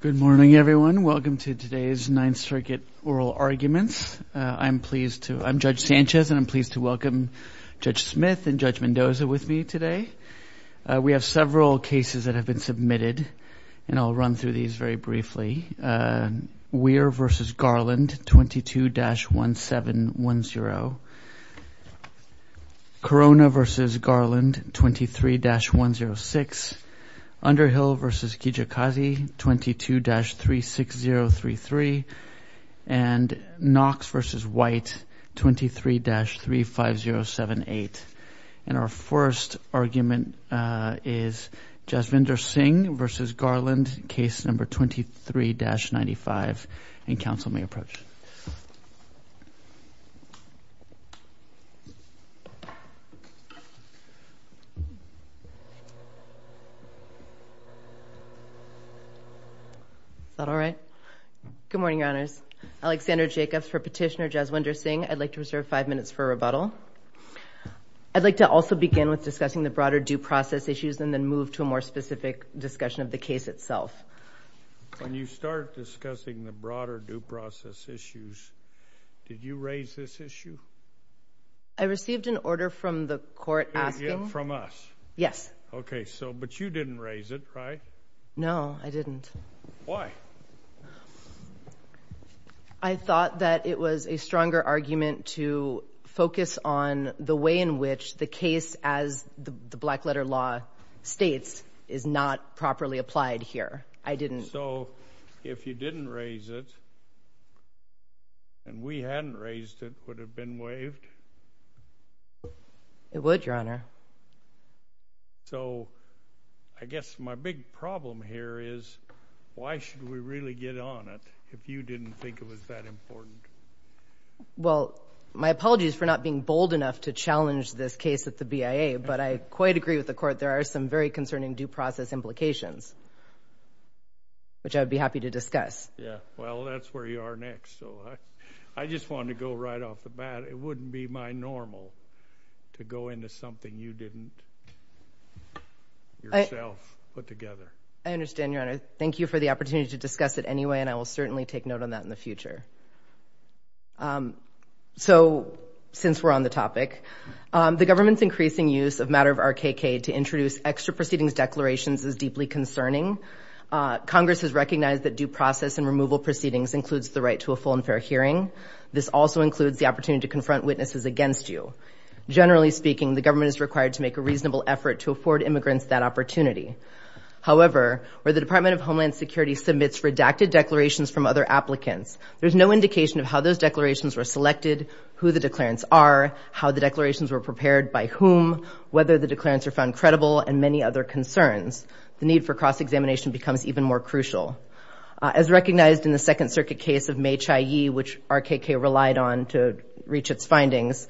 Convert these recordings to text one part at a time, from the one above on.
Good morning, everyone. Welcome to today's Ninth Circuit Oral Arguments. I'm Judge Sanchez and I'm pleased to welcome Judge Smith and Judge Mendoza with me today. We have several cases that have been submitted and I'll run through these very briefly. Weir v. Garland 22-1710. Corona v. Garland 23-106. Underhill v. Kijikazi 22-36033. Knox v. White 23-35078. And our first argument is Jaswinder Singh v. Garland case number 23-95 and counsel may approach. Is that all right? Good morning, your honors. Alexandra Jacobs for petitioner Jaswinder Singh. I'd like to reserve five minutes for rebuttal. I'd like to also begin with discussing the broader due process issues and then move to a more specific discussion of the case itself. When you start discussing the broader due process issues, did you raise this issue? I received an order from the court asking. From us? Yes. Okay, so but you didn't raise it, right? No, I didn't. Why? I thought that it was a stronger argument to focus on the way in which the case as the black letter law states is not properly applied here. I didn't. So if you didn't raise it and we hadn't raised it, would it have been waived? It would, your honor. So I guess my big problem here is why should we really get on it if you didn't think it was that important? Well, my apologies for not being bold enough to challenge this case at the BIA, but I quite agree with the court. There are some very concerning due process implications, which I would be happy to discuss. Yeah, well, that's where you are next. So I just want to go right off the bat. It wouldn't be my normal to go into something you didn't yourself put together. I understand, your honor. Thank you for the opportunity to discuss it anyway, and I will certainly take note on that in the future. So since we're on the topic, the government's increasing use of matter of RKK to introduce extra proceedings declarations is deeply concerning. Congress has recognized that due process and removal proceedings includes the right to a full and fair hearing. This also includes the opportunity to confront witnesses against you. Generally speaking, the government is required to make a reasonable effort to afford immigrants that opportunity. However, where the Department of Homeland Security submits redacted declarations from other applicants, there's no indication of how those declarations were selected, who the declarants are, how the declarations were prepared by whom, whether the declarants are found credible, and many other concerns. The need for cross-examination becomes even more crucial. As recognized in the Second Circuit case of Mei Chia Yee, which RKK relied on to reach its findings,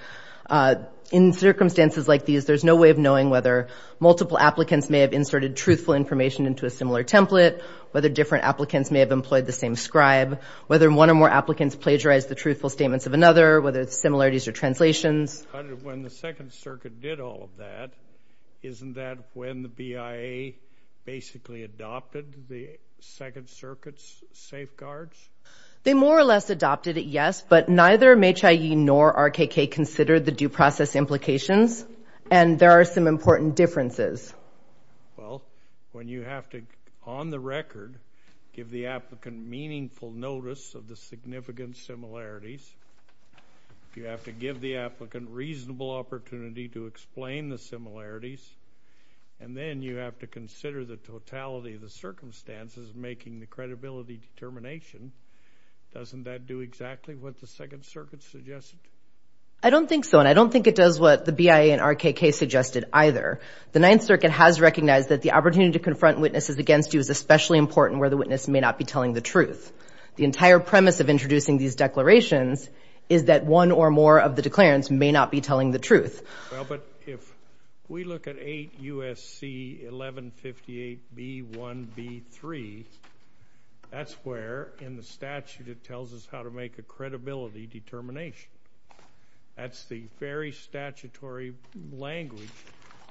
in circumstances like these, there's no way of knowing whether multiple applicants may have inserted truthful information into a similar template, whether different applicants may have employed the same scribe, whether one or more applicants plagiarized the truthful statements of another, whether it's similarities or translations. When the Second Circuit did all of that, isn't that when the BIA basically adopted the Second Circuit's safeguards? They more or less adopted it, yes, but neither Mei Chia Yee nor RKK considered the due process implications, and there are some important differences. Well, when you have to, on the record, give the applicant meaningful notice of the significant similarities, you have to give the applicant reasonable opportunity to explain the similarities, and then you have to consider the totality of the circumstances making the credibility determination, doesn't that do exactly what the Second Circuit suggested? I don't think so, and I don't think it does what the BIA and RKK suggested either. The Ninth Circuit has recognized that the opportunity to confront witnesses against you is especially important where the witness may not be telling the truth. The entire premise of introducing these declarations is that one or more of the declarants may not be telling the truth. Well, but if we look at 8 U.S.C. 1158b1b3, that's where in the statute it tells us how to make a credibility determination. That's the very statutory language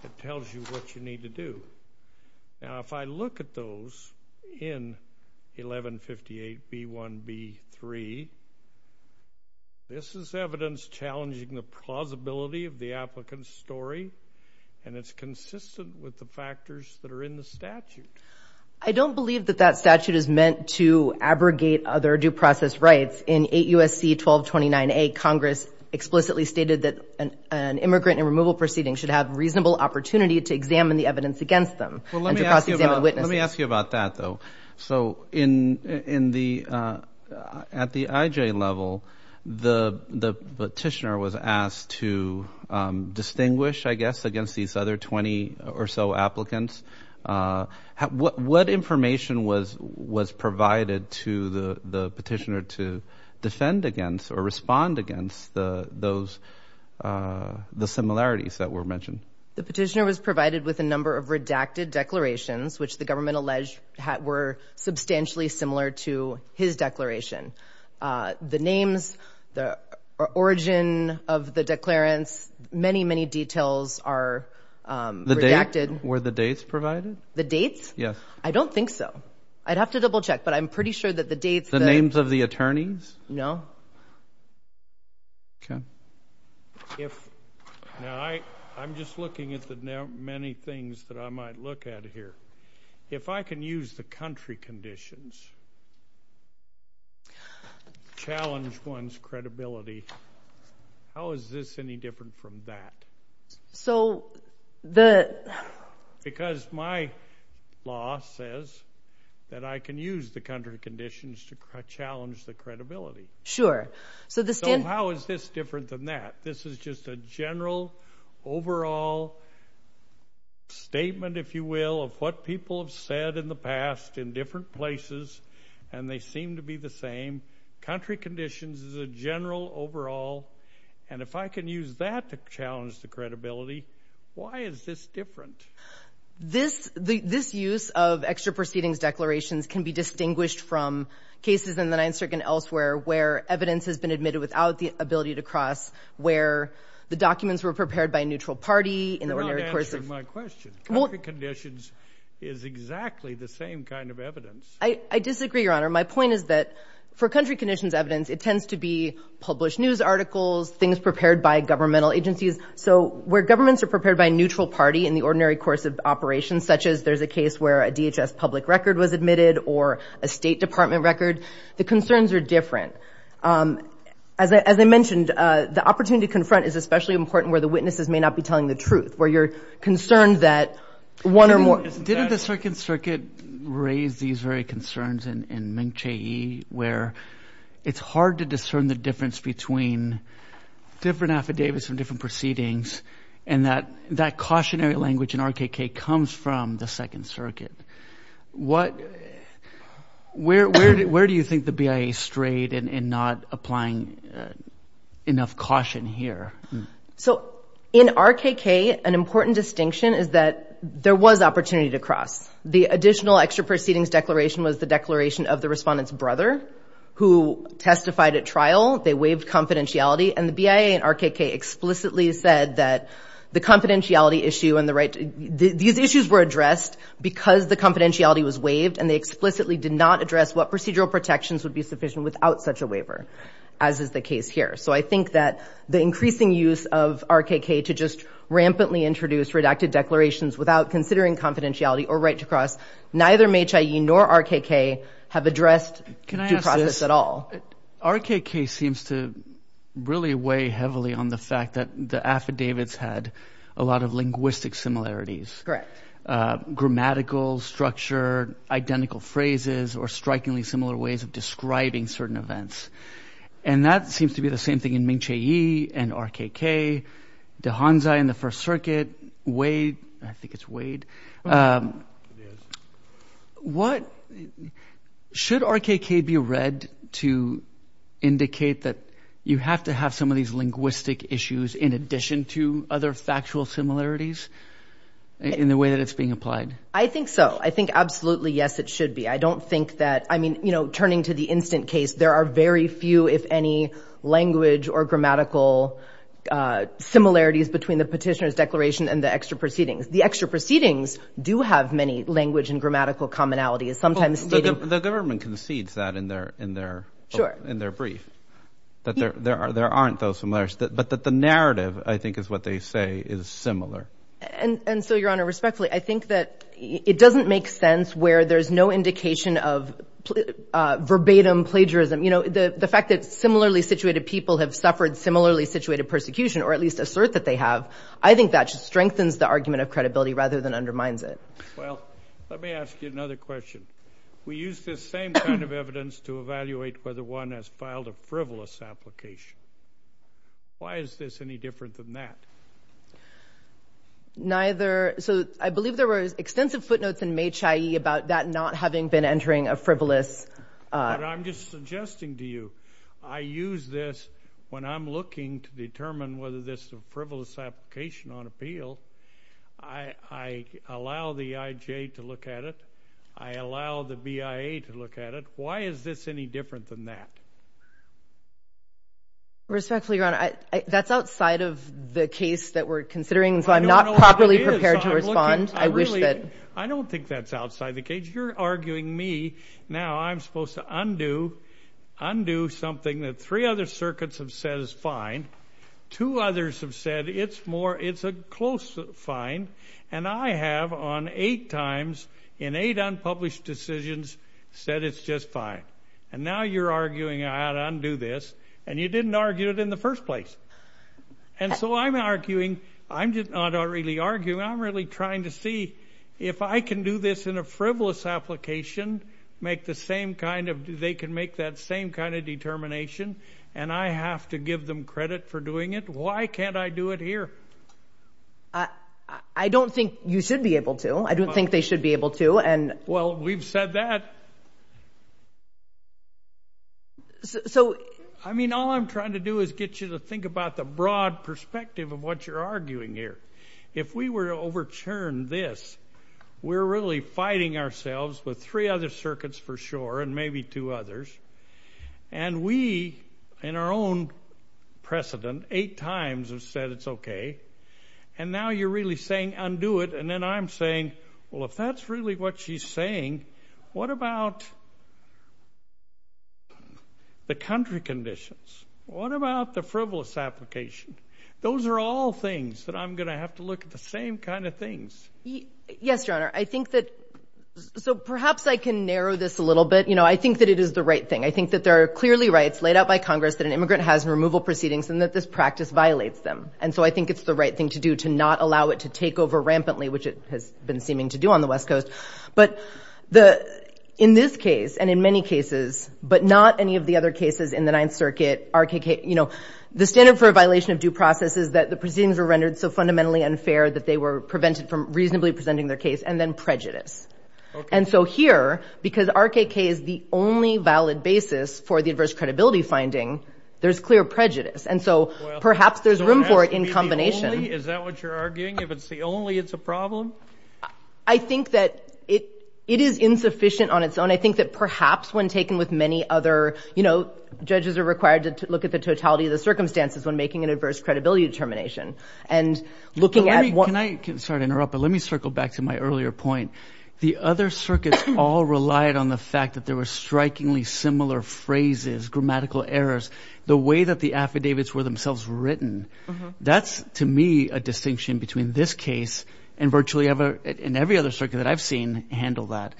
that tells you what you need to do. Now, if I look at those in 1158b1b3, this is evidence challenging the plausibility of the applicant's story, and it's consistent with the factors that are in the statute. I don't believe that that statute is meant to abrogate other due process rights. In 8 U.S.C. 1229a, Congress explicitly stated that an immigrant and removal proceeding should have opportunity to examine the evidence against them and to cross-examine witnesses. Let me ask you about that, though. So, at the IJ level, the petitioner was asked to distinguish, I guess, against these other 20 or so applicants. What information was provided to the petitioner to defend against or respond against the similarities that were mentioned? The petitioner was provided with a number of redacted declarations, which the government alleged were substantially similar to his declaration. The names, the origin of the declarants, many, many details are redacted. Were the dates provided? The dates? Yes. I don't think so. I'd have to double-check, but I'm pretty sure that the dates... The names of the attorneys? No. Okay. Now, I'm just looking at the many things that I might look at here. If I can use the country conditions to challenge one's credibility, how is this any different from that? Because my law says that I can use the country conditions to challenge the credibility. Sure. So, this didn't... So, how is this different than that? This is just a general overall statement, if you will, of what people have said in the past in different places, and they seem to be the same. Country conditions is a general overall, and if I can use that to challenge the credibility, why is this different? This use of extra proceedings declarations can be evidence has been admitted without the ability to cross where the documents were prepared by a neutral party in the ordinary course of... You're not answering my question. Country conditions is exactly the same kind of evidence. I disagree, Your Honor. My point is that for country conditions evidence, it tends to be published news articles, things prepared by governmental agencies. So, where governments are prepared by a neutral party in the ordinary course of operations, such as there's a case where a DHS public record was admitted or a State Department record, the concerns are different. As I mentioned, the opportunity to confront is especially important where the witnesses may not be telling the truth, where you're concerned that one or more... Didn't the Second Circuit raise these very concerns in Meng Chieh, where it's hard to discern the difference between different affidavits and different proceedings, and that cautionary language in RKK comes from the Second Circuit. Where do you think the BIA strayed in not applying enough caution here? So, in RKK, an important distinction is that there was opportunity to cross. The additional extra proceedings declaration was the declaration of the respondent's brother who testified at trial. They waived confidentiality, and the BIA and RKK explicitly said that the confidentiality issue and the right... These issues were addressed because the confidentiality was waived, and they explicitly did not address what procedural protections would be sufficient without such a waiver, as is the case here. So, I think that the increasing use of RKK to just rampantly introduce redacted declarations without considering confidentiality or right to cross, neither Meng Chieh nor RKK have addressed due really weigh heavily on the fact that the affidavits had a lot of linguistic similarities. Correct. Grammatical structure, identical phrases, or strikingly similar ways of describing certain events. And that seems to be the same thing in Meng Chieh and RKK, de Honza in the First Circuit, way... I think it's weighed. Should RKK be read to indicate that you have to have some of these linguistic issues in addition to other factual similarities in the way that it's being applied? I think so. I think absolutely, yes, it should be. I don't think that... I mean, turning to the instant case, there are very few, if any, language or grammatical similarities between the petitioner's declaration and the extra proceedings. The extra proceedings do have many language and grammatical commonalities, sometimes stating... The government concedes that in their brief, that there aren't those similarities, but that the narrative, I think, is what they say is similar. And so, Your Honor, respectfully, I think that it doesn't make sense where there's no indication of verbatim plagiarism. You know, the fact that similarly situated people have suffered similarly situated persecution, or at least assert that they have, I think that just strengthens the argument of credibility rather than undermines it. Well, let me ask you another question. We use this same kind of evidence to evaluate whether one has filed a frivolous application. Why is this any different than that? Neither... So I believe there were extensive footnotes in Meng Chieh about that not having been entering a frivolous... But I'm just suggesting to you, I use this when I'm looking to determine whether this is a frivolous application on appeal. I allow the IJ to look at it. I allow the BIA to look at it. Why is this any different than that? Respectfully, Your Honor, that's outside of the case that we're considering, and so I'm not properly prepared to respond. I wish that... I don't think that's outside the case. You're arguing me. Now I'm supposed to undo something that three other circuits have said is fine. Two others have said it's a close fine, and I have, on eight times, in eight unpublished decisions, said it's just fine. And now you're arguing I ought to undo this, and you didn't argue it in the first place. And so I'm arguing... I'm not really arguing. I'm really trying to see if I can do this in a frivolous application, make the same kind of... They can make that same kind of determination, and I have to give them credit for doing it. Why can't I do it here? I don't think you should be able to. I don't think they should be able to, and... Well, we've said that. So... I mean, all I'm trying to do is get you to think about the broad perspective of what you're arguing here. If we were to overturn this, we're really fighting ourselves with three other circuits for sure, and maybe two others. And we, in our own precedent, eight times have said it's okay. And now you're really saying undo it, and then I'm saying, well, if that's really what she's saying, what about the country conditions? What about the frivolous application? Those are all things that I'm going to have to look at the same kind of things. Yes, Your Honor. I think that... So perhaps I can narrow this a little bit. I think that it is the right thing. I think that there are clearly rights laid out by Congress that an immigrant has in removal proceedings, and that this practice violates them. And so I think it's the right thing to do to not allow it to take over rampantly, which it has been seeming to do on the West Coast. But in this case, and in many cases, but not any of the other cases in the Ninth Circuit, RKK... The standard for a violation of due process is that the proceedings were rendered so fundamentally unfair that they were prevented from reasonably presenting their case, and then prejudice. And so here, because RKK is the only valid basis for the adverse credibility finding, there's clear prejudice. And so perhaps there's room for it in combination. Is that what you're arguing? If it's the only, it's a problem? I think that it is insufficient on its own. I think that perhaps when taken with many other... Judges are required to look at the totality of the circumstances when making an adverse credibility determination. And looking at... Can I... Sorry to interrupt, but let me circle back to my earlier point. The other circuits all relied on the fact that there were strikingly similar phrases, grammatical errors, the way that the affidavits were themselves written. That's, to me, a distinction between this case and virtually every other circuit that I've seen handle that.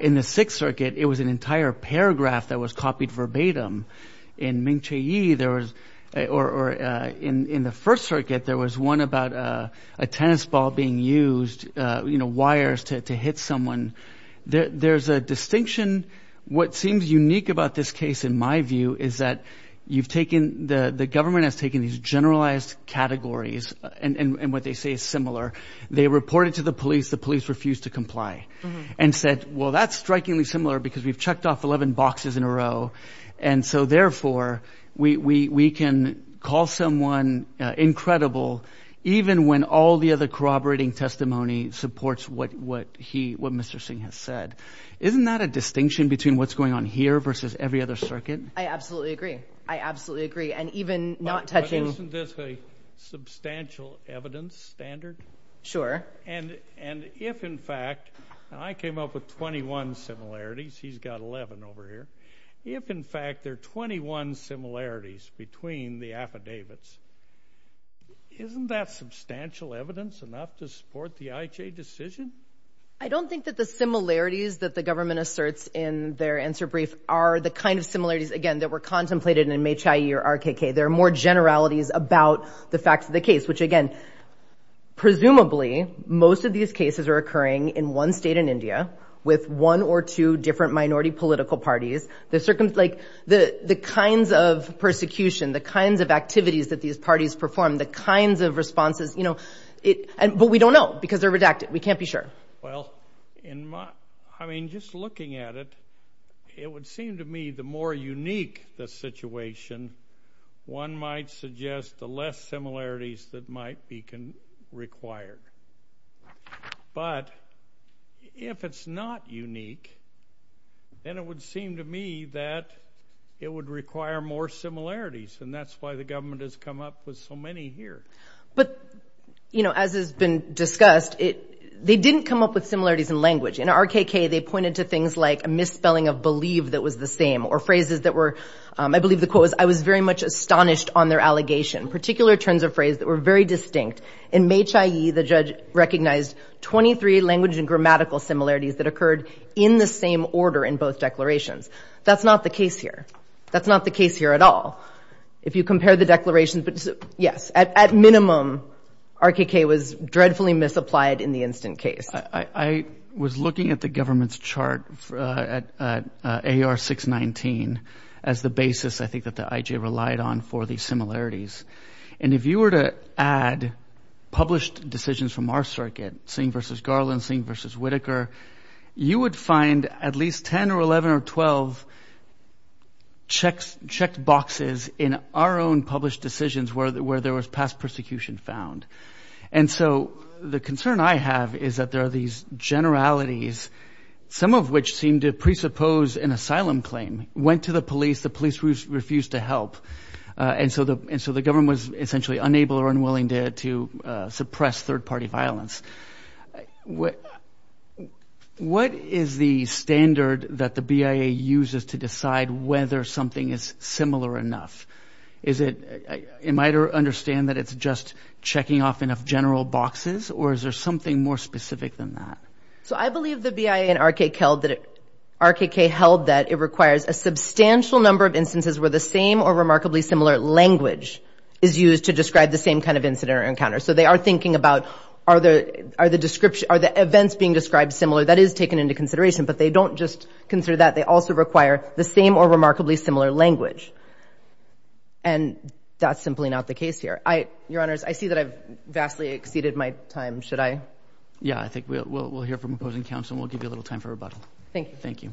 In the Sixth Circuit, it was an entire paragraph that was copied verbatim. In Ming Che Yi, there was... Or in the First Circuit, there was one about a tennis ball being used, wires to hit someone. There's a distinction. What seems unique about this case, in my view, is that you've taken... The government has taken these generalized categories, and what they say is similar. They reported to the police. The police refused to comply and said, well, that's strikingly similar because we've checked off 11 boxes in a row. And so therefore, we can call someone incredible even when all the other corroborating testimony supports what Mr. Singh has said. Isn't that a distinction between what's going on here versus every other circuit? I absolutely agree. I absolutely agree. And even not touching... Isn't this a substantial evidence standard? Sure. And if, in fact... I came up with 21 similarities. He's got 11 over here. If, in fact, there are 21 similarities between the affidavits, isn't that substantial evidence enough to support the IJ decision? I don't think that the similarities that the government asserts in their answer brief are the kind of similarities, again, that were contemplated in MHIE or RKK. There are more generalities about the facts of the case, which, again, presumably most of these cases are occurring in one state in India with one or two different minority political parties. The kinds of persecution, the kinds of activities that these parties perform, the kinds of responses... But we don't know because they're redacted. We can't be sure. Well, I mean, just looking at it, it would seem to me the more unique the situation, one might suggest the less similarities that might be required. But if it's not unique, then it would seem to me that it would require more similarities, and that's why the government has come up with so many here. But as has been discussed, they didn't come up with similarities in language. In RKK, they pointed to things like a misspelling of believe that was the same or phrases that were... I believe the quote was, I was very much astonished on their allegation, particular terms of phrase that were very distinct. In MHIE, the judge recognized 23 language and grammatical similarities that occurred in the same order in both declarations. That's not the case here at all. If you compare the declarations, but yes, at minimum, RKK was dreadfully misapplied in the instant case. I was looking at the government's chart at AR 619 as the basis, I think, that the IJ relied on for these similarities. And if you were to add published decisions from our circuit, Singh versus Garland, Singh versus Whitaker, you would find at least 10 or 11 or 12 checked boxes in our own published decisions where there was past persecution found. And so the concern I have is that there are these generalities, some of which seem to presuppose an asylum claim. Went to the police, the police refused to help. And so the government was essentially unable or unwilling to suppress third party violence. What is the standard that the BIA uses to decide whether something is similar enough? Is it, it might understand that it's just checking off enough general boxes or is there something more specific than that? So I believe the BIA and RKK held that it requires a substantial number of instances where the same or remarkably similar language is used to describe the same kind of incident or encounter. So they are thinking about are the description, are the events being described similar? That is taken into consideration, but they don't just consider that. They also require the same or remarkably similar language. And that's simply not the case here. I, your honors, I see that I've vastly exceeded my time. Should I? Yeah, I think we'll, we'll, we'll hear from opposing counsel and we'll give you a little time for rebuttal. Thank you. Thank you.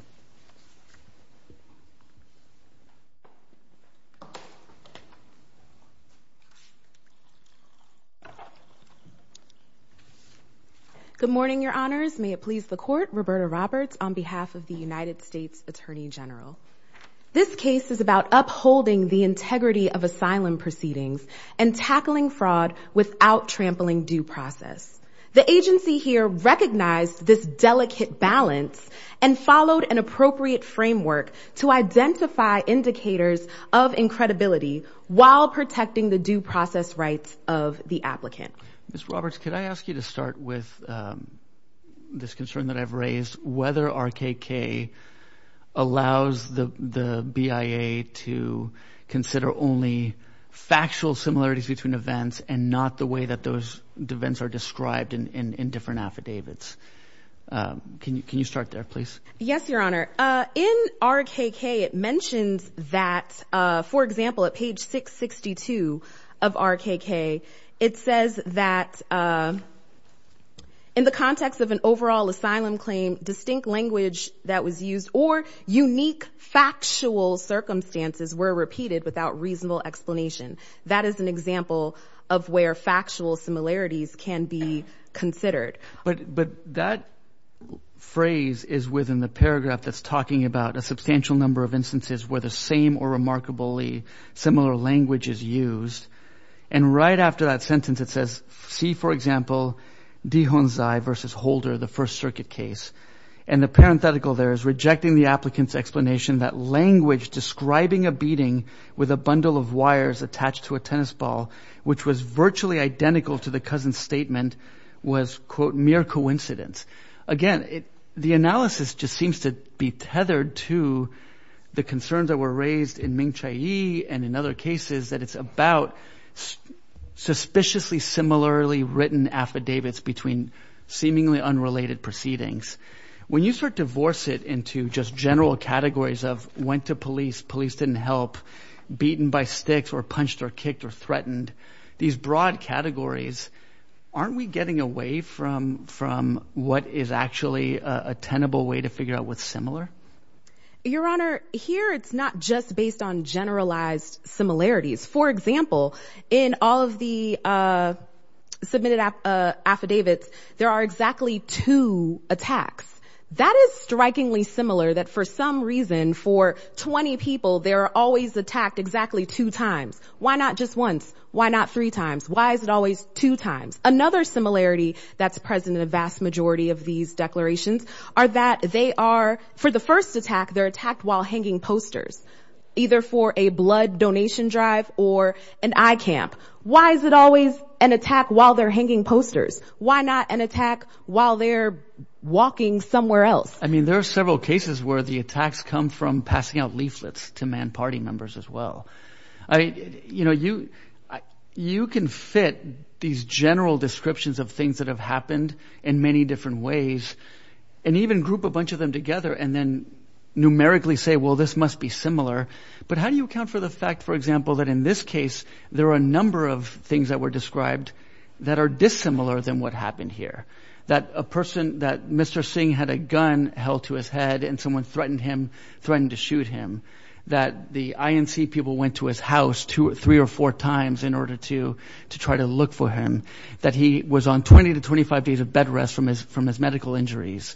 Good morning, your honors. May it please the court. Roberta Roberts on behalf of the United States Attorney General. This case is about upholding the integrity of asylum proceedings and tackling fraud without trampling due process. The agency here recognized this delicate balance and followed an appropriate framework to identify indicators of incredibility while protecting the due process rights of the applicant. Ms. Roberts, could I ask you to start with this concern that I've raised, whether RKK allows the, the BIA to consider only factual similarities between events and not the way that those events are described in, in different affidavits? Can you, can you start there please? Yes, your honor. In RKK, it mentions that for example, at page 662 of RKK, it says that in the context of an overall asylum claim, distinct language that was used or unique factual circumstances were repeated without reasonable explanation. That is an example of where factual similarities can be considered. But, but that phrase is within the paragraph that's talking about a substantial number of instances where the same or remarkably similar language is used. And right after that sentence, it says, see, for example, Dihonzai versus Holder, the first circuit case, and the parenthetical there is rejecting the applicant's explanation that language describing a beating with a bundle of wires attached to a tennis ball, which was virtually identical to the cousin's statement was quote, mere coincidence. Again, the analysis just seems to be tethered to the concerns that were raised in Ming Chai Yi and in other cases that it's about suspiciously similarly written affidavits between seemingly unrelated proceedings. When you start to force it into just general categories of went to police, police didn't help, beaten by sticks or punched or kicked or threatened, these broad categories, aren't we getting away from, from what is actually a tenable way to figure out what's similar? Your Honor, here, it's not just based on generalized similarities. For example, in all of the submitted affidavits, there are exactly two attacks. That is strikingly for 20 people, there are always attacked exactly two times. Why not just once? Why not three times? Why is it always two times? Another similarity that's present in a vast majority of these declarations are that they are, for the first attack, they're attacked while hanging posters, either for a blood donation drive or an eye camp. Why is it always an attack while they're hanging posters? Why not an attack while they're walking somewhere else? I mean, there are several cases where the attacks come from passing out leaflets to man party members as well. I, you know, you, you can fit these general descriptions of things that have happened in many different ways and even group a bunch of them together and then numerically say, well, this must be similar. But how do you account for the fact, for example, that in this case, there are a number of things that were described that are dissimilar than what happened here, that a person, that Mr. Singh had a gun held to his head and someone threatened him, threatened to shoot him, that the INC people went to his house two or three or four times in order to, to try to look for him, that he was on 20 to 25 days of bed rest from his, from his medical injuries.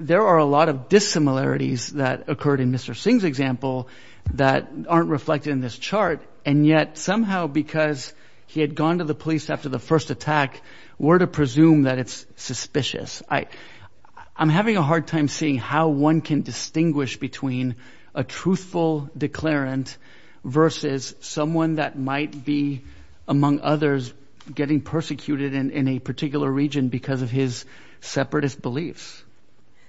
There are a lot of dissimilarities that occurred in Mr. Singh's example that aren't reflected in this chart. And yet somehow, because he had gone to the police after the first attack, we're to presume that it's suspicious. I, I'm having a hard time seeing how one can distinguish between a truthful declarant versus someone that might be among others getting persecuted in a particular region because of his separatist beliefs.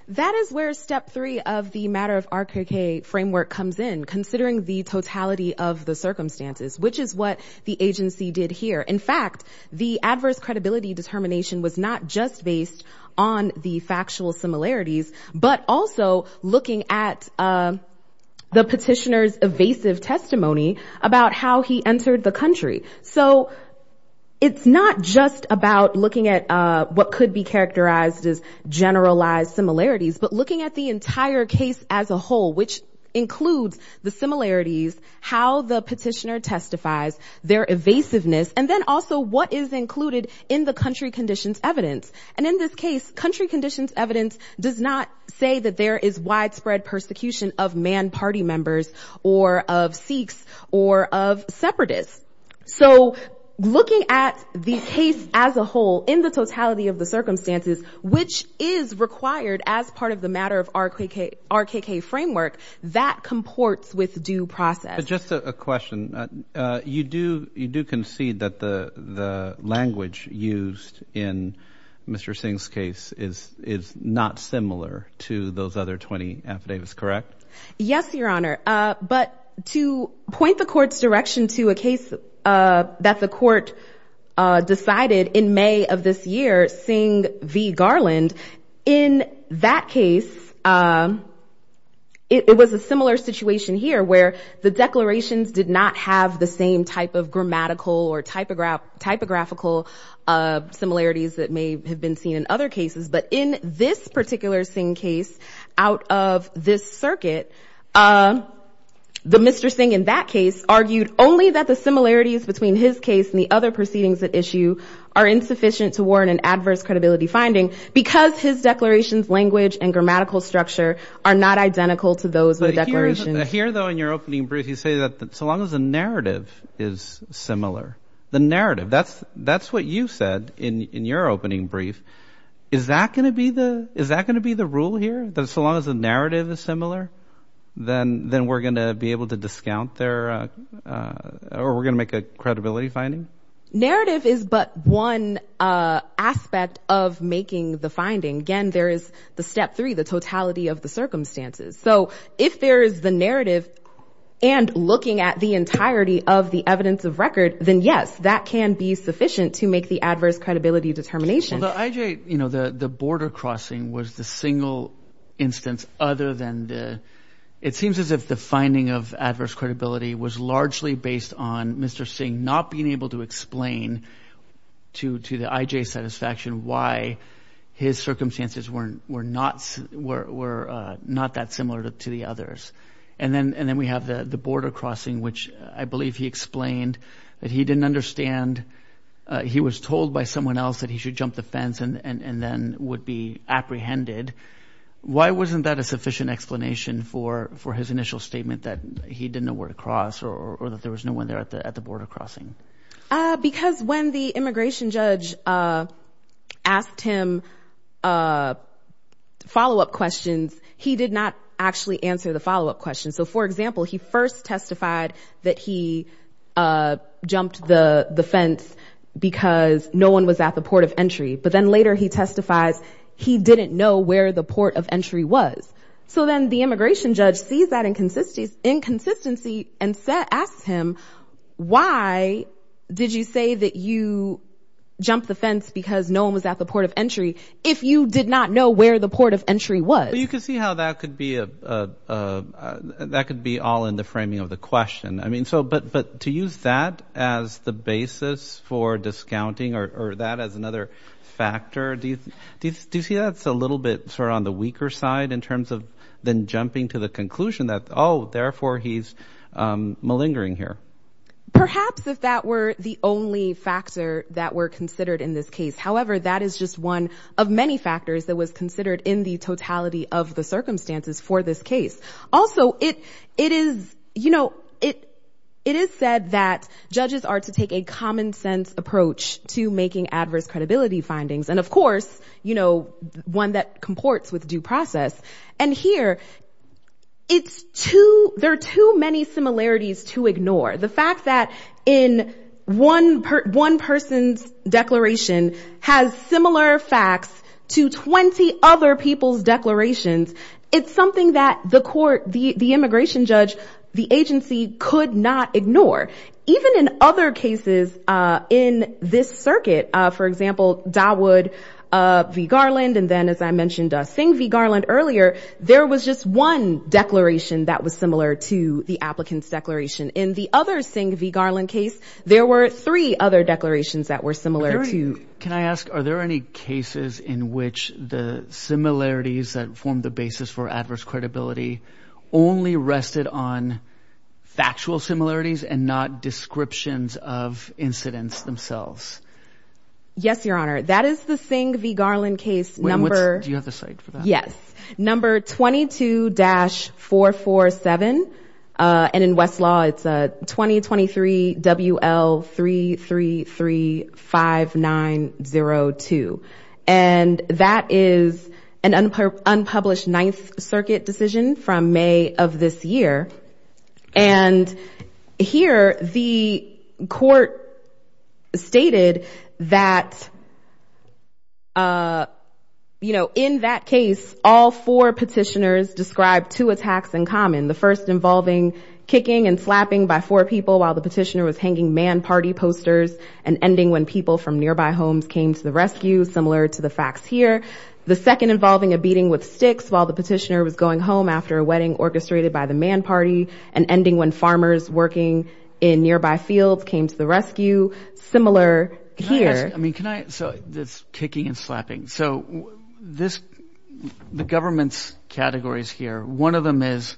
That is where step three of the matter of RKK framework comes in, considering the totality of the circumstances, which is what the agency did here. In fact, the adverse similarities, but also looking at the petitioner's evasive testimony about how he entered the country. So it's not just about looking at what could be characterized as generalized similarities, but looking at the entire case as a whole, which includes the similarities, how the petitioner testifies, their evasiveness, and then also what is included in the country conditions evidence. And in this case, country conditions evidence does not say that there is widespread persecution of man party members or of Sikhs or of separatists. So looking at the case as a whole in the totality of the circumstances, which is required as part of the matter of RKK framework, that comports with Just a question. You do concede that the language used in Mr. Singh's case is not similar to those other 20 affidavits, correct? Yes, Your Honor. But to point the court's direction to a case that the court decided in May of this year, Singh v. Garland, in that case, it was a similar situation here where the declarations did not have the same type of grammatical or typographical similarities that may have been seen in other cases. But in this particular Singh case, out of this circuit, the Mr. Singh in that case argued only that the similarities between his case and the other proceedings at issue are insufficient to warn an adverse credibility finding because his declarations, language and grammatical structure are not identical to those declarations. Here though, in your opening brief, you say that so long as the narrative is similar, the narrative, that's what you said in your opening brief. Is that going to be the rule here? That so long as the narrative is similar, then we're going to be able to discount their or we're going to make a credibility finding? Narrative is but one aspect of making the finding. Again, there is the step three, the totality of the circumstances. So if there is the narrative and looking at the entirety of the evidence of record, then yes, that can be sufficient to make the adverse credibility determination. Well, the border crossing was the single instance other than the, it seems as if the finding of adverse credibility was largely based on Mr. Singh not being able to explain to the IJ satisfaction why his circumstances were not that similar to the others. And then we have the border crossing, which I believe he explained that he didn't understand. He was told by someone else that he should jump the fence and then would be apprehended. Why wasn't that a sufficient explanation for his initial statement that he didn't know where to because when the immigration judge asked him follow-up questions, he did not actually answer the follow-up questions. So for example, he first testified that he jumped the fence because no one was at the port of entry, but then later he testifies he didn't know where the port of entry was. So then the immigration judge sees that inconsistency and asks him, why did you say that you jumped the fence because no one was at the port of entry if you did not know where the port of entry was? You can see how that could be all in the framing of the question. I mean, so, but to use that as the basis for discounting or that as another factor, do you see that's a little bit on the weaker side in terms of then jumping to the conclusion that, oh, therefore he's malingering here? Perhaps if that were the only factor that were considered in this case. However, that is just one of many factors that was considered in the totality of the circumstances for this case. Also, it is, you know, it is said that judges are to take a common sense approach to making adverse credibility findings. And of course, you know, one that comports with due process. And here it's too, there are too many similarities to ignore the fact that in one, one person's declaration has similar facts to 20 other people's declarations. It's something that the immigration judge, the agency could not ignore. Even in other cases in this circuit, for example, Dawood v. Garland. And then as I mentioned, Singh v. Garland earlier, there was just one declaration that was similar to the applicant's declaration. In the other Singh v. Garland case, there were three other declarations that were similar to. Can I ask, are there any cases in which the similarities that form the basis for adverse credibility only rested on factual similarities and not descriptions of incidents themselves? Yes, Your Honor. That is the Singh v. Garland case number. Do you have the site for that? Yes. Number 22-447. And in Westlaw, it's 2023 WL3335902. And that is an unpublished ninth circuit decision from May of this year. And here the court stated that, you know, in that case, all four petitioners described two attacks in common. The first involving kicking and slapping by four people while the petitioner was hanging man party posters and ending when people from nearby homes came to the rescue, similar to the facts here. The second involving a beating with sticks while the petitioner was going home after a wedding orchestrated by the man party and ending when farmers working in nearby fields came to the rescue, similar here. I mean, can I, so this kicking and slapping. So this, the government's categories here, one of them is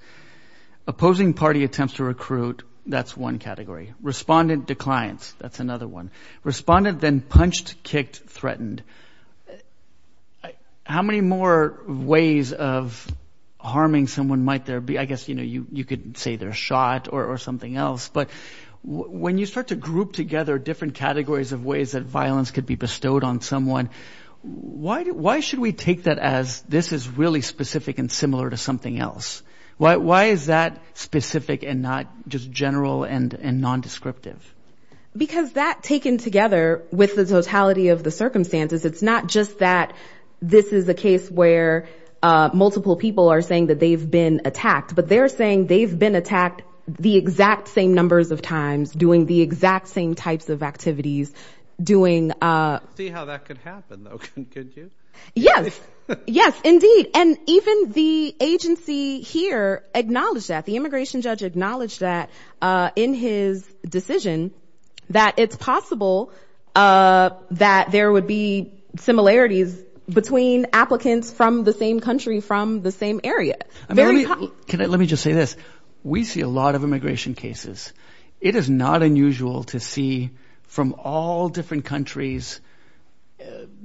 opposing party attempts to recruit. That's one category. Respondent declines. That's another one. Respondent then punched, kicked, threatened. How many more ways of harming someone might there be? I guess, you know, you could say they're shot or something else, but when you start to group together different categories of ways that violence could be bestowed on someone, why should we take that as this is really specific and similar to something else? Why is that specific and not just general and nondescriptive? Because that taken together with the totality of the circumstances, it's not just that this is a case where multiple people are saying that they've been attacked, but they're saying they've been attacked the exact same numbers of times doing the exact same types of activities. Doing, see how that could happen, though, could you? Yes, yes, indeed. And even the agency here acknowledged that the immigration judge acknowledged that in his decision that it's possible that there would be similarities between applicants from the same country, from the same area. Let me just say this. We see a lot of immigration cases. It is not unusual to see from all different countries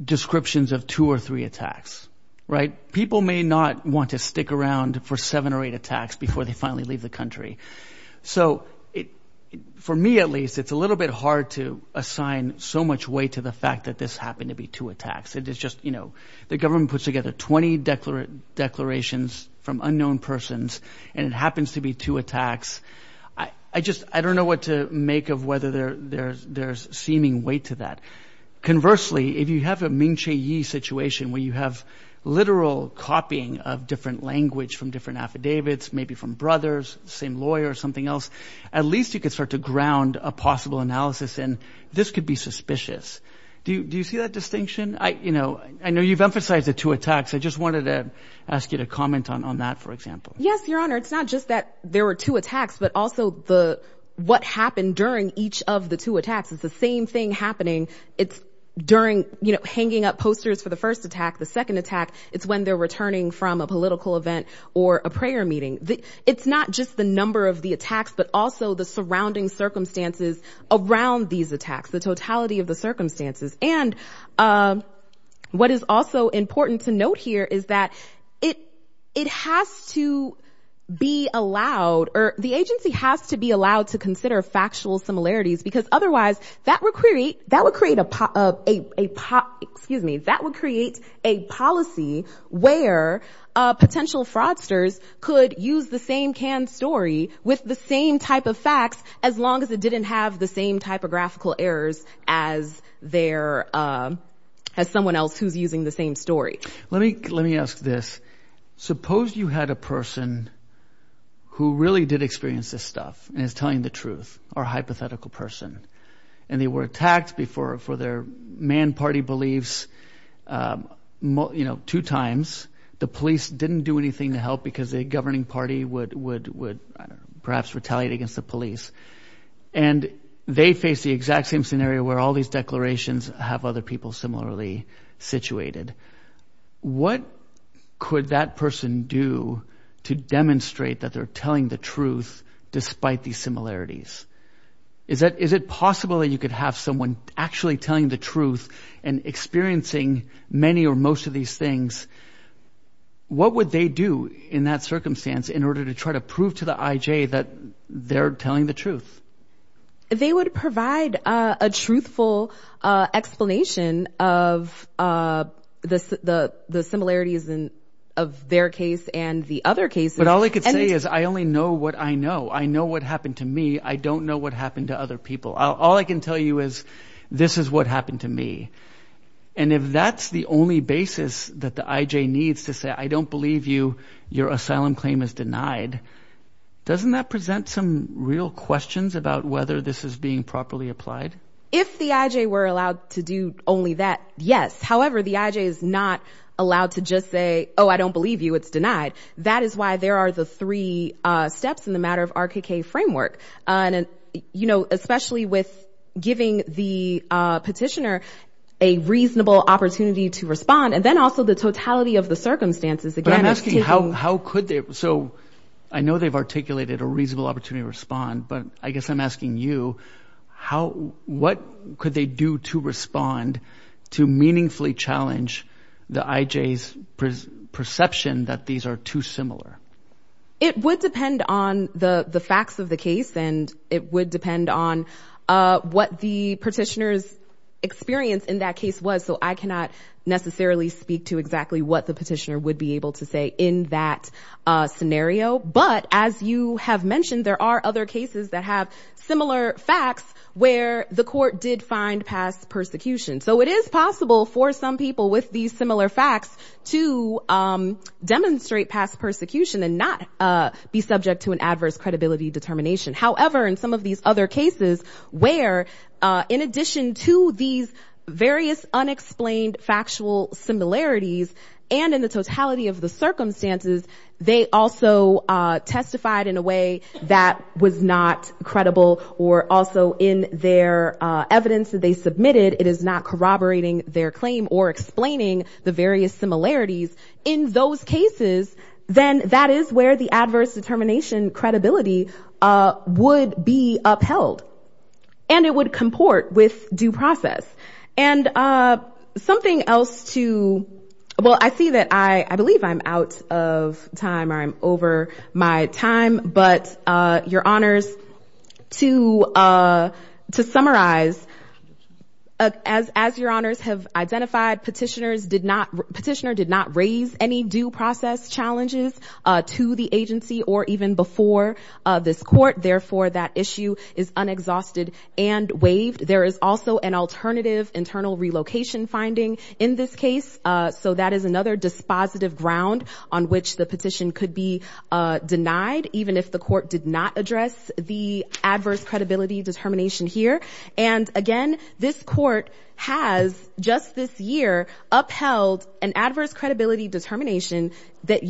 descriptions of two or three attacks, right? People may not want to stick around for seven or eight attacks before they finally leave the country. So for me, at least, it's a little bit hard to assign so much weight to the fact that this happened to be two attacks. It is just, you know, the government puts together 20 declarations from unknown persons, and it happens to be two attacks. I just, I don't know what to make of whether there's seeming weight to that. Conversely, if you have a Ming-Chi-Yi situation where you have literal copying of different language from different affidavits, maybe from brothers, same lawyer or something else, at least you could start to ground a possible analysis, and this could be suspicious. Do you see that distinction? I, you know, I know you've emphasized the two attacks. I just wanted to ask you to comment on that, for example. Yes, Your Honor. It's not just that there were two attacks, but also the, what happened during each of the two attacks. It's the same thing happening. It's during, you know, hanging up posters for the first attack, the second attack, it's when they're returning from a political event or a prayer meeting. It's not just the number of the attacks, but also the surrounding circumstances around these attacks, the totality of the circumstances. And what is also important to note here is that it has to be allowed, or the agency has to be allowed to consider factual similarities, because otherwise that would create, that would create a, excuse me, that would create a policy where potential fraudsters could use the same canned story with the same type of facts, as long as it didn't have the same typographical errors as their, as someone else who's using the same story. Let me, let me ask this. Suppose you had a person who really did experience this stuff, and is telling the truth, or hypothetical person, and they were attacked before for their man party beliefs, you know, two times. The police didn't do anything to help because the governing party would, would, would perhaps retaliate against the police. And they face the exact same scenario where all these declarations have other people similarly situated. What could that person do to demonstrate that they're telling the truth, despite these similarities? Is that, is it possible that you could have someone actually telling the truth and experiencing many or most of these things? What would they do in that circumstance in order to try to prove to the IJ that they're telling the truth? They would provide a truthful explanation of the, the, the similarities in, of their case and the other cases. But all I could say is, I only know what I know. I know what happened to me. I don't know what happened to other people. All I can tell you is, this is what happened to me. And if that's the only basis that the IJ needs to say, I don't believe you, your asylum claim is denied, doesn't that present some real questions about whether this is being properly applied? If the IJ were allowed to do only that, yes. However, the IJ is not allowed to just say, oh, I don't believe you, it's denied. That is why there are the three steps in the matter of RKK framework. And, you know, especially with giving the petitioner a reasonable opportunity to respond. And then also the totality of the circumstances. But I'm asking how, how could they, so I know they've articulated a reasonable opportunity to respond, but I guess I'm asking you, how, what could they do to respond to meaningfully challenge the IJ's perception that these are too similar? It would depend on the facts of the case. And it would depend on what the petitioner's experience in that case was. So I cannot necessarily speak to exactly what the petitioner would be able to say in that scenario. But as you have mentioned, there are other cases that have similar facts where the court did find past persecution. So it is possible for some people with these similar facts to demonstrate past persecution and not be subject to an adverse credibility determination. However, in some of these other cases where, in addition to these circumstances, they also testified in a way that was not credible or also in their evidence that they submitted, it is not corroborating their claim or explaining the various similarities. In those cases, then that is where the adverse determination credibility would be upheld. And it would comport with due process. And something else to, well, I see that I, I believe I'm out of time. I'm over my time. But your honors, to, to summarize, as, as your honors have identified, petitioners did not, petitioner did not raise any due process challenges to the agency or even before this court. Therefore, that issue is unexhausted and waived. There is also an alternative internal relocation finding in this case. So that is another dispositive ground on which the petition could be denied, even if the court did not address the adverse credibility determination here. And again, this court has just this year upheld an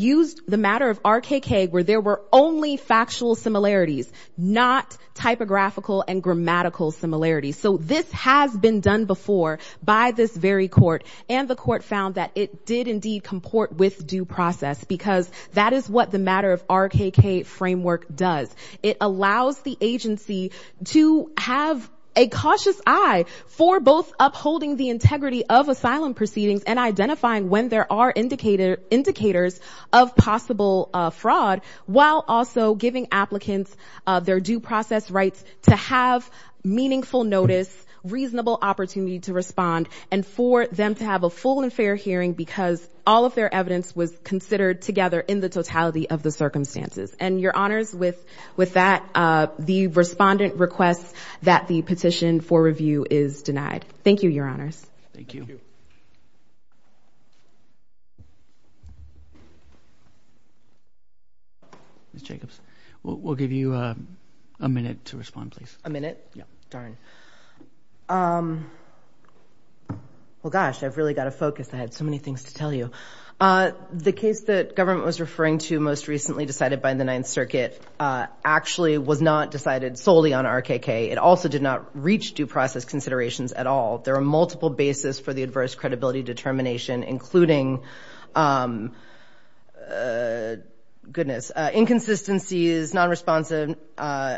used the matter of RKK, where there were only factual similarities, not typographical and grammatical similarities. So this has been done before by this very court. And the court found that it did indeed comport with due process, because that is what the matter of RKK framework does. It allows the agency to have a cautious eye for both upholding the integrity of asylum proceedings and identifying when there are indicators of possible fraud, while also giving applicants their due process rights to have meaningful notice, reasonable opportunity to respond, and for them to have a full and fair hearing, because all of their evidence was considered together in the totality of the circumstances. And your honors, with that, the respondent requests that the petition for review is denied. Thank you, your honors. Thank you. Ms. Jacobs, we'll give you a minute to respond, please. A minute? Darn. Well, gosh, I've really got to focus. I had so many things to tell you. The case that government was referring to most recently decided by the Ninth Circuit actually was not decided solely on RKK. It also did not reach due process considerations at all. There are multiple basis for the adverse credibility determination, including, goodness, inconsistencies, non-responsive,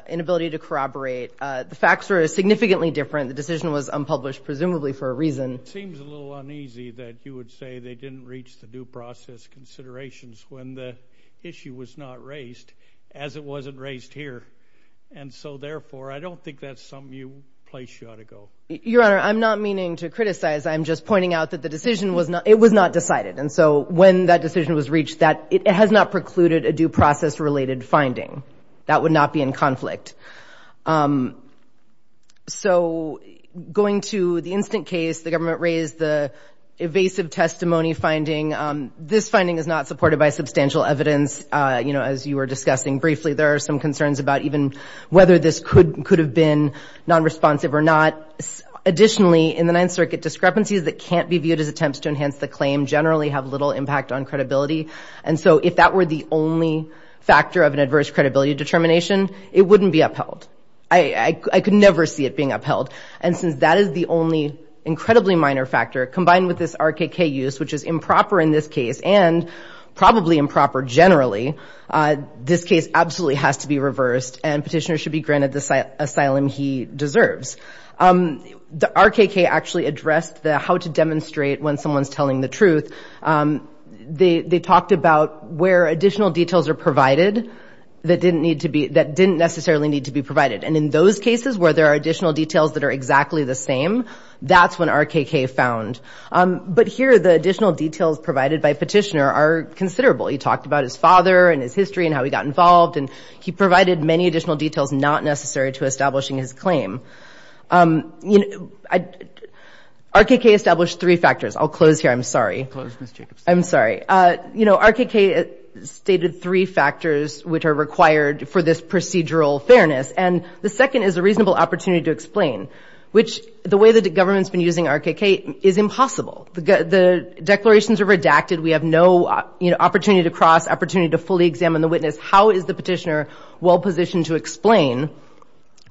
inability to corroborate. The facts were significantly different. The decision was unpublished, presumably for a reason. It seems a little uneasy that you would say they didn't reach the due process considerations when the issue was not raised, as it wasn't raised here. And so, therefore, I don't think that's a place you ought to go. Your honor, I'm not meaning to criticize. I'm just pointing out that the decision was not decided. And so when that decision was reached, it has not precluded a due process related finding. That would not be in conflict. So going to the instant case, the government raised the evasive testimony finding. This finding is not supported by substantial evidence. As you were discussing briefly, there are some concerns about even whether this could have been non-responsive or not. Additionally, in the Ninth Circuit, discrepancies that can't be viewed as attempts to enhance the claim generally have little impact on credibility. And so if that were the only factor of an adverse credibility determination, it wouldn't be upheld. I could never see it being upheld. And since that is the only incredibly minor factor, combined with this RKK use, which is improper in this case and probably improper generally, this case absolutely has to be reversed and petitioner should be granted the asylum he deserves. The RKK actually addressed the how to demonstrate when someone's telling the truth. They talked about where additional details are provided that didn't necessarily need to be provided. And in those cases where there are additional details that are exactly the same, that's when RKK found. But here, the additional details provided by petitioner are considerable. He talked about his father and his history and how he got involved. And he provided many additional details not necessary to establishing his claim. RKK established three factors. I'll close here. I'm sorry. I'm sorry. RKK stated three factors which are required for this procedural fairness. And the second is a reasonable opportunity to explain, which the way government's been using RKK is impossible. The declarations are redacted. We have no opportunity to cross, opportunity to fully examine the witness. How is the petitioner well positioned to explain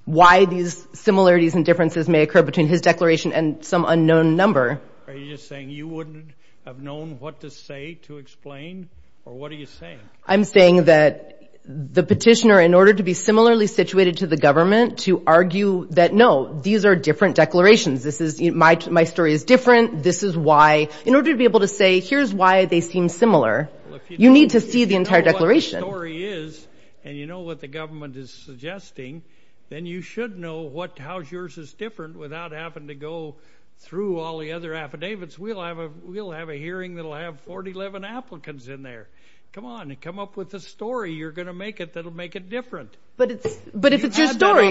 why these similarities and differences may occur between his declaration and some unknown number? Are you just saying you wouldn't have known what to say to explain? Or what are you saying? I'm saying that the petitioner, in order to be similarly situated to the government, to argue that, no, these are different declarations. This is, my story is different. This is why, in order to be able to say, here's why they seem similar, you need to see the entire declaration. If you know what the story is, and you know what the government is suggesting, then you should know what, how yours is different without having to go through all the other affidavits. We'll have a, we'll have a hearing that'll have 411 applicants in there. Come on, come up with a story. You're having an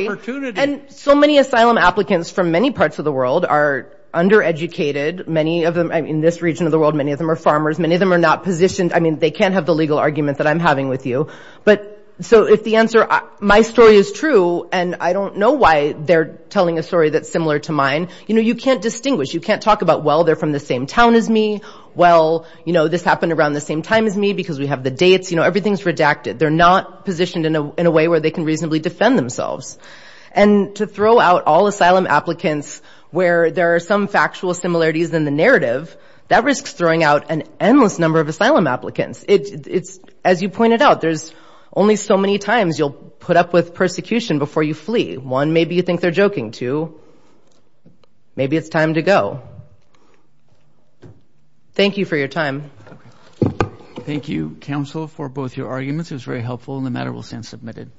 opportunity. And so many asylum applicants from many parts of the world are undereducated. Many of them, I mean, in this region of the world, many of them are farmers. Many of them are not positioned. I mean, they can't have the legal argument that I'm having with you. But so if the answer, my story is true, and I don't know why they're telling a story that's similar to mine. You know, you can't distinguish. You can't talk about, well, they're from the same town as me. Well, you know, this happened around the same time as me because we have the dates. You know, everything's redacted. They're not positioned in a way where they can reasonably defend themselves. And to throw out all asylum applicants where there are some factual similarities in the narrative, that risks throwing out an endless number of asylum applicants. It's, as you pointed out, there's only so many times you'll put up with persecution before you flee. One, maybe you think they're joking. Two, maybe it's time to go. Thank you for your time. Thank you, counsel, for both your arguments. It was very helpful and the matter will stand admitted.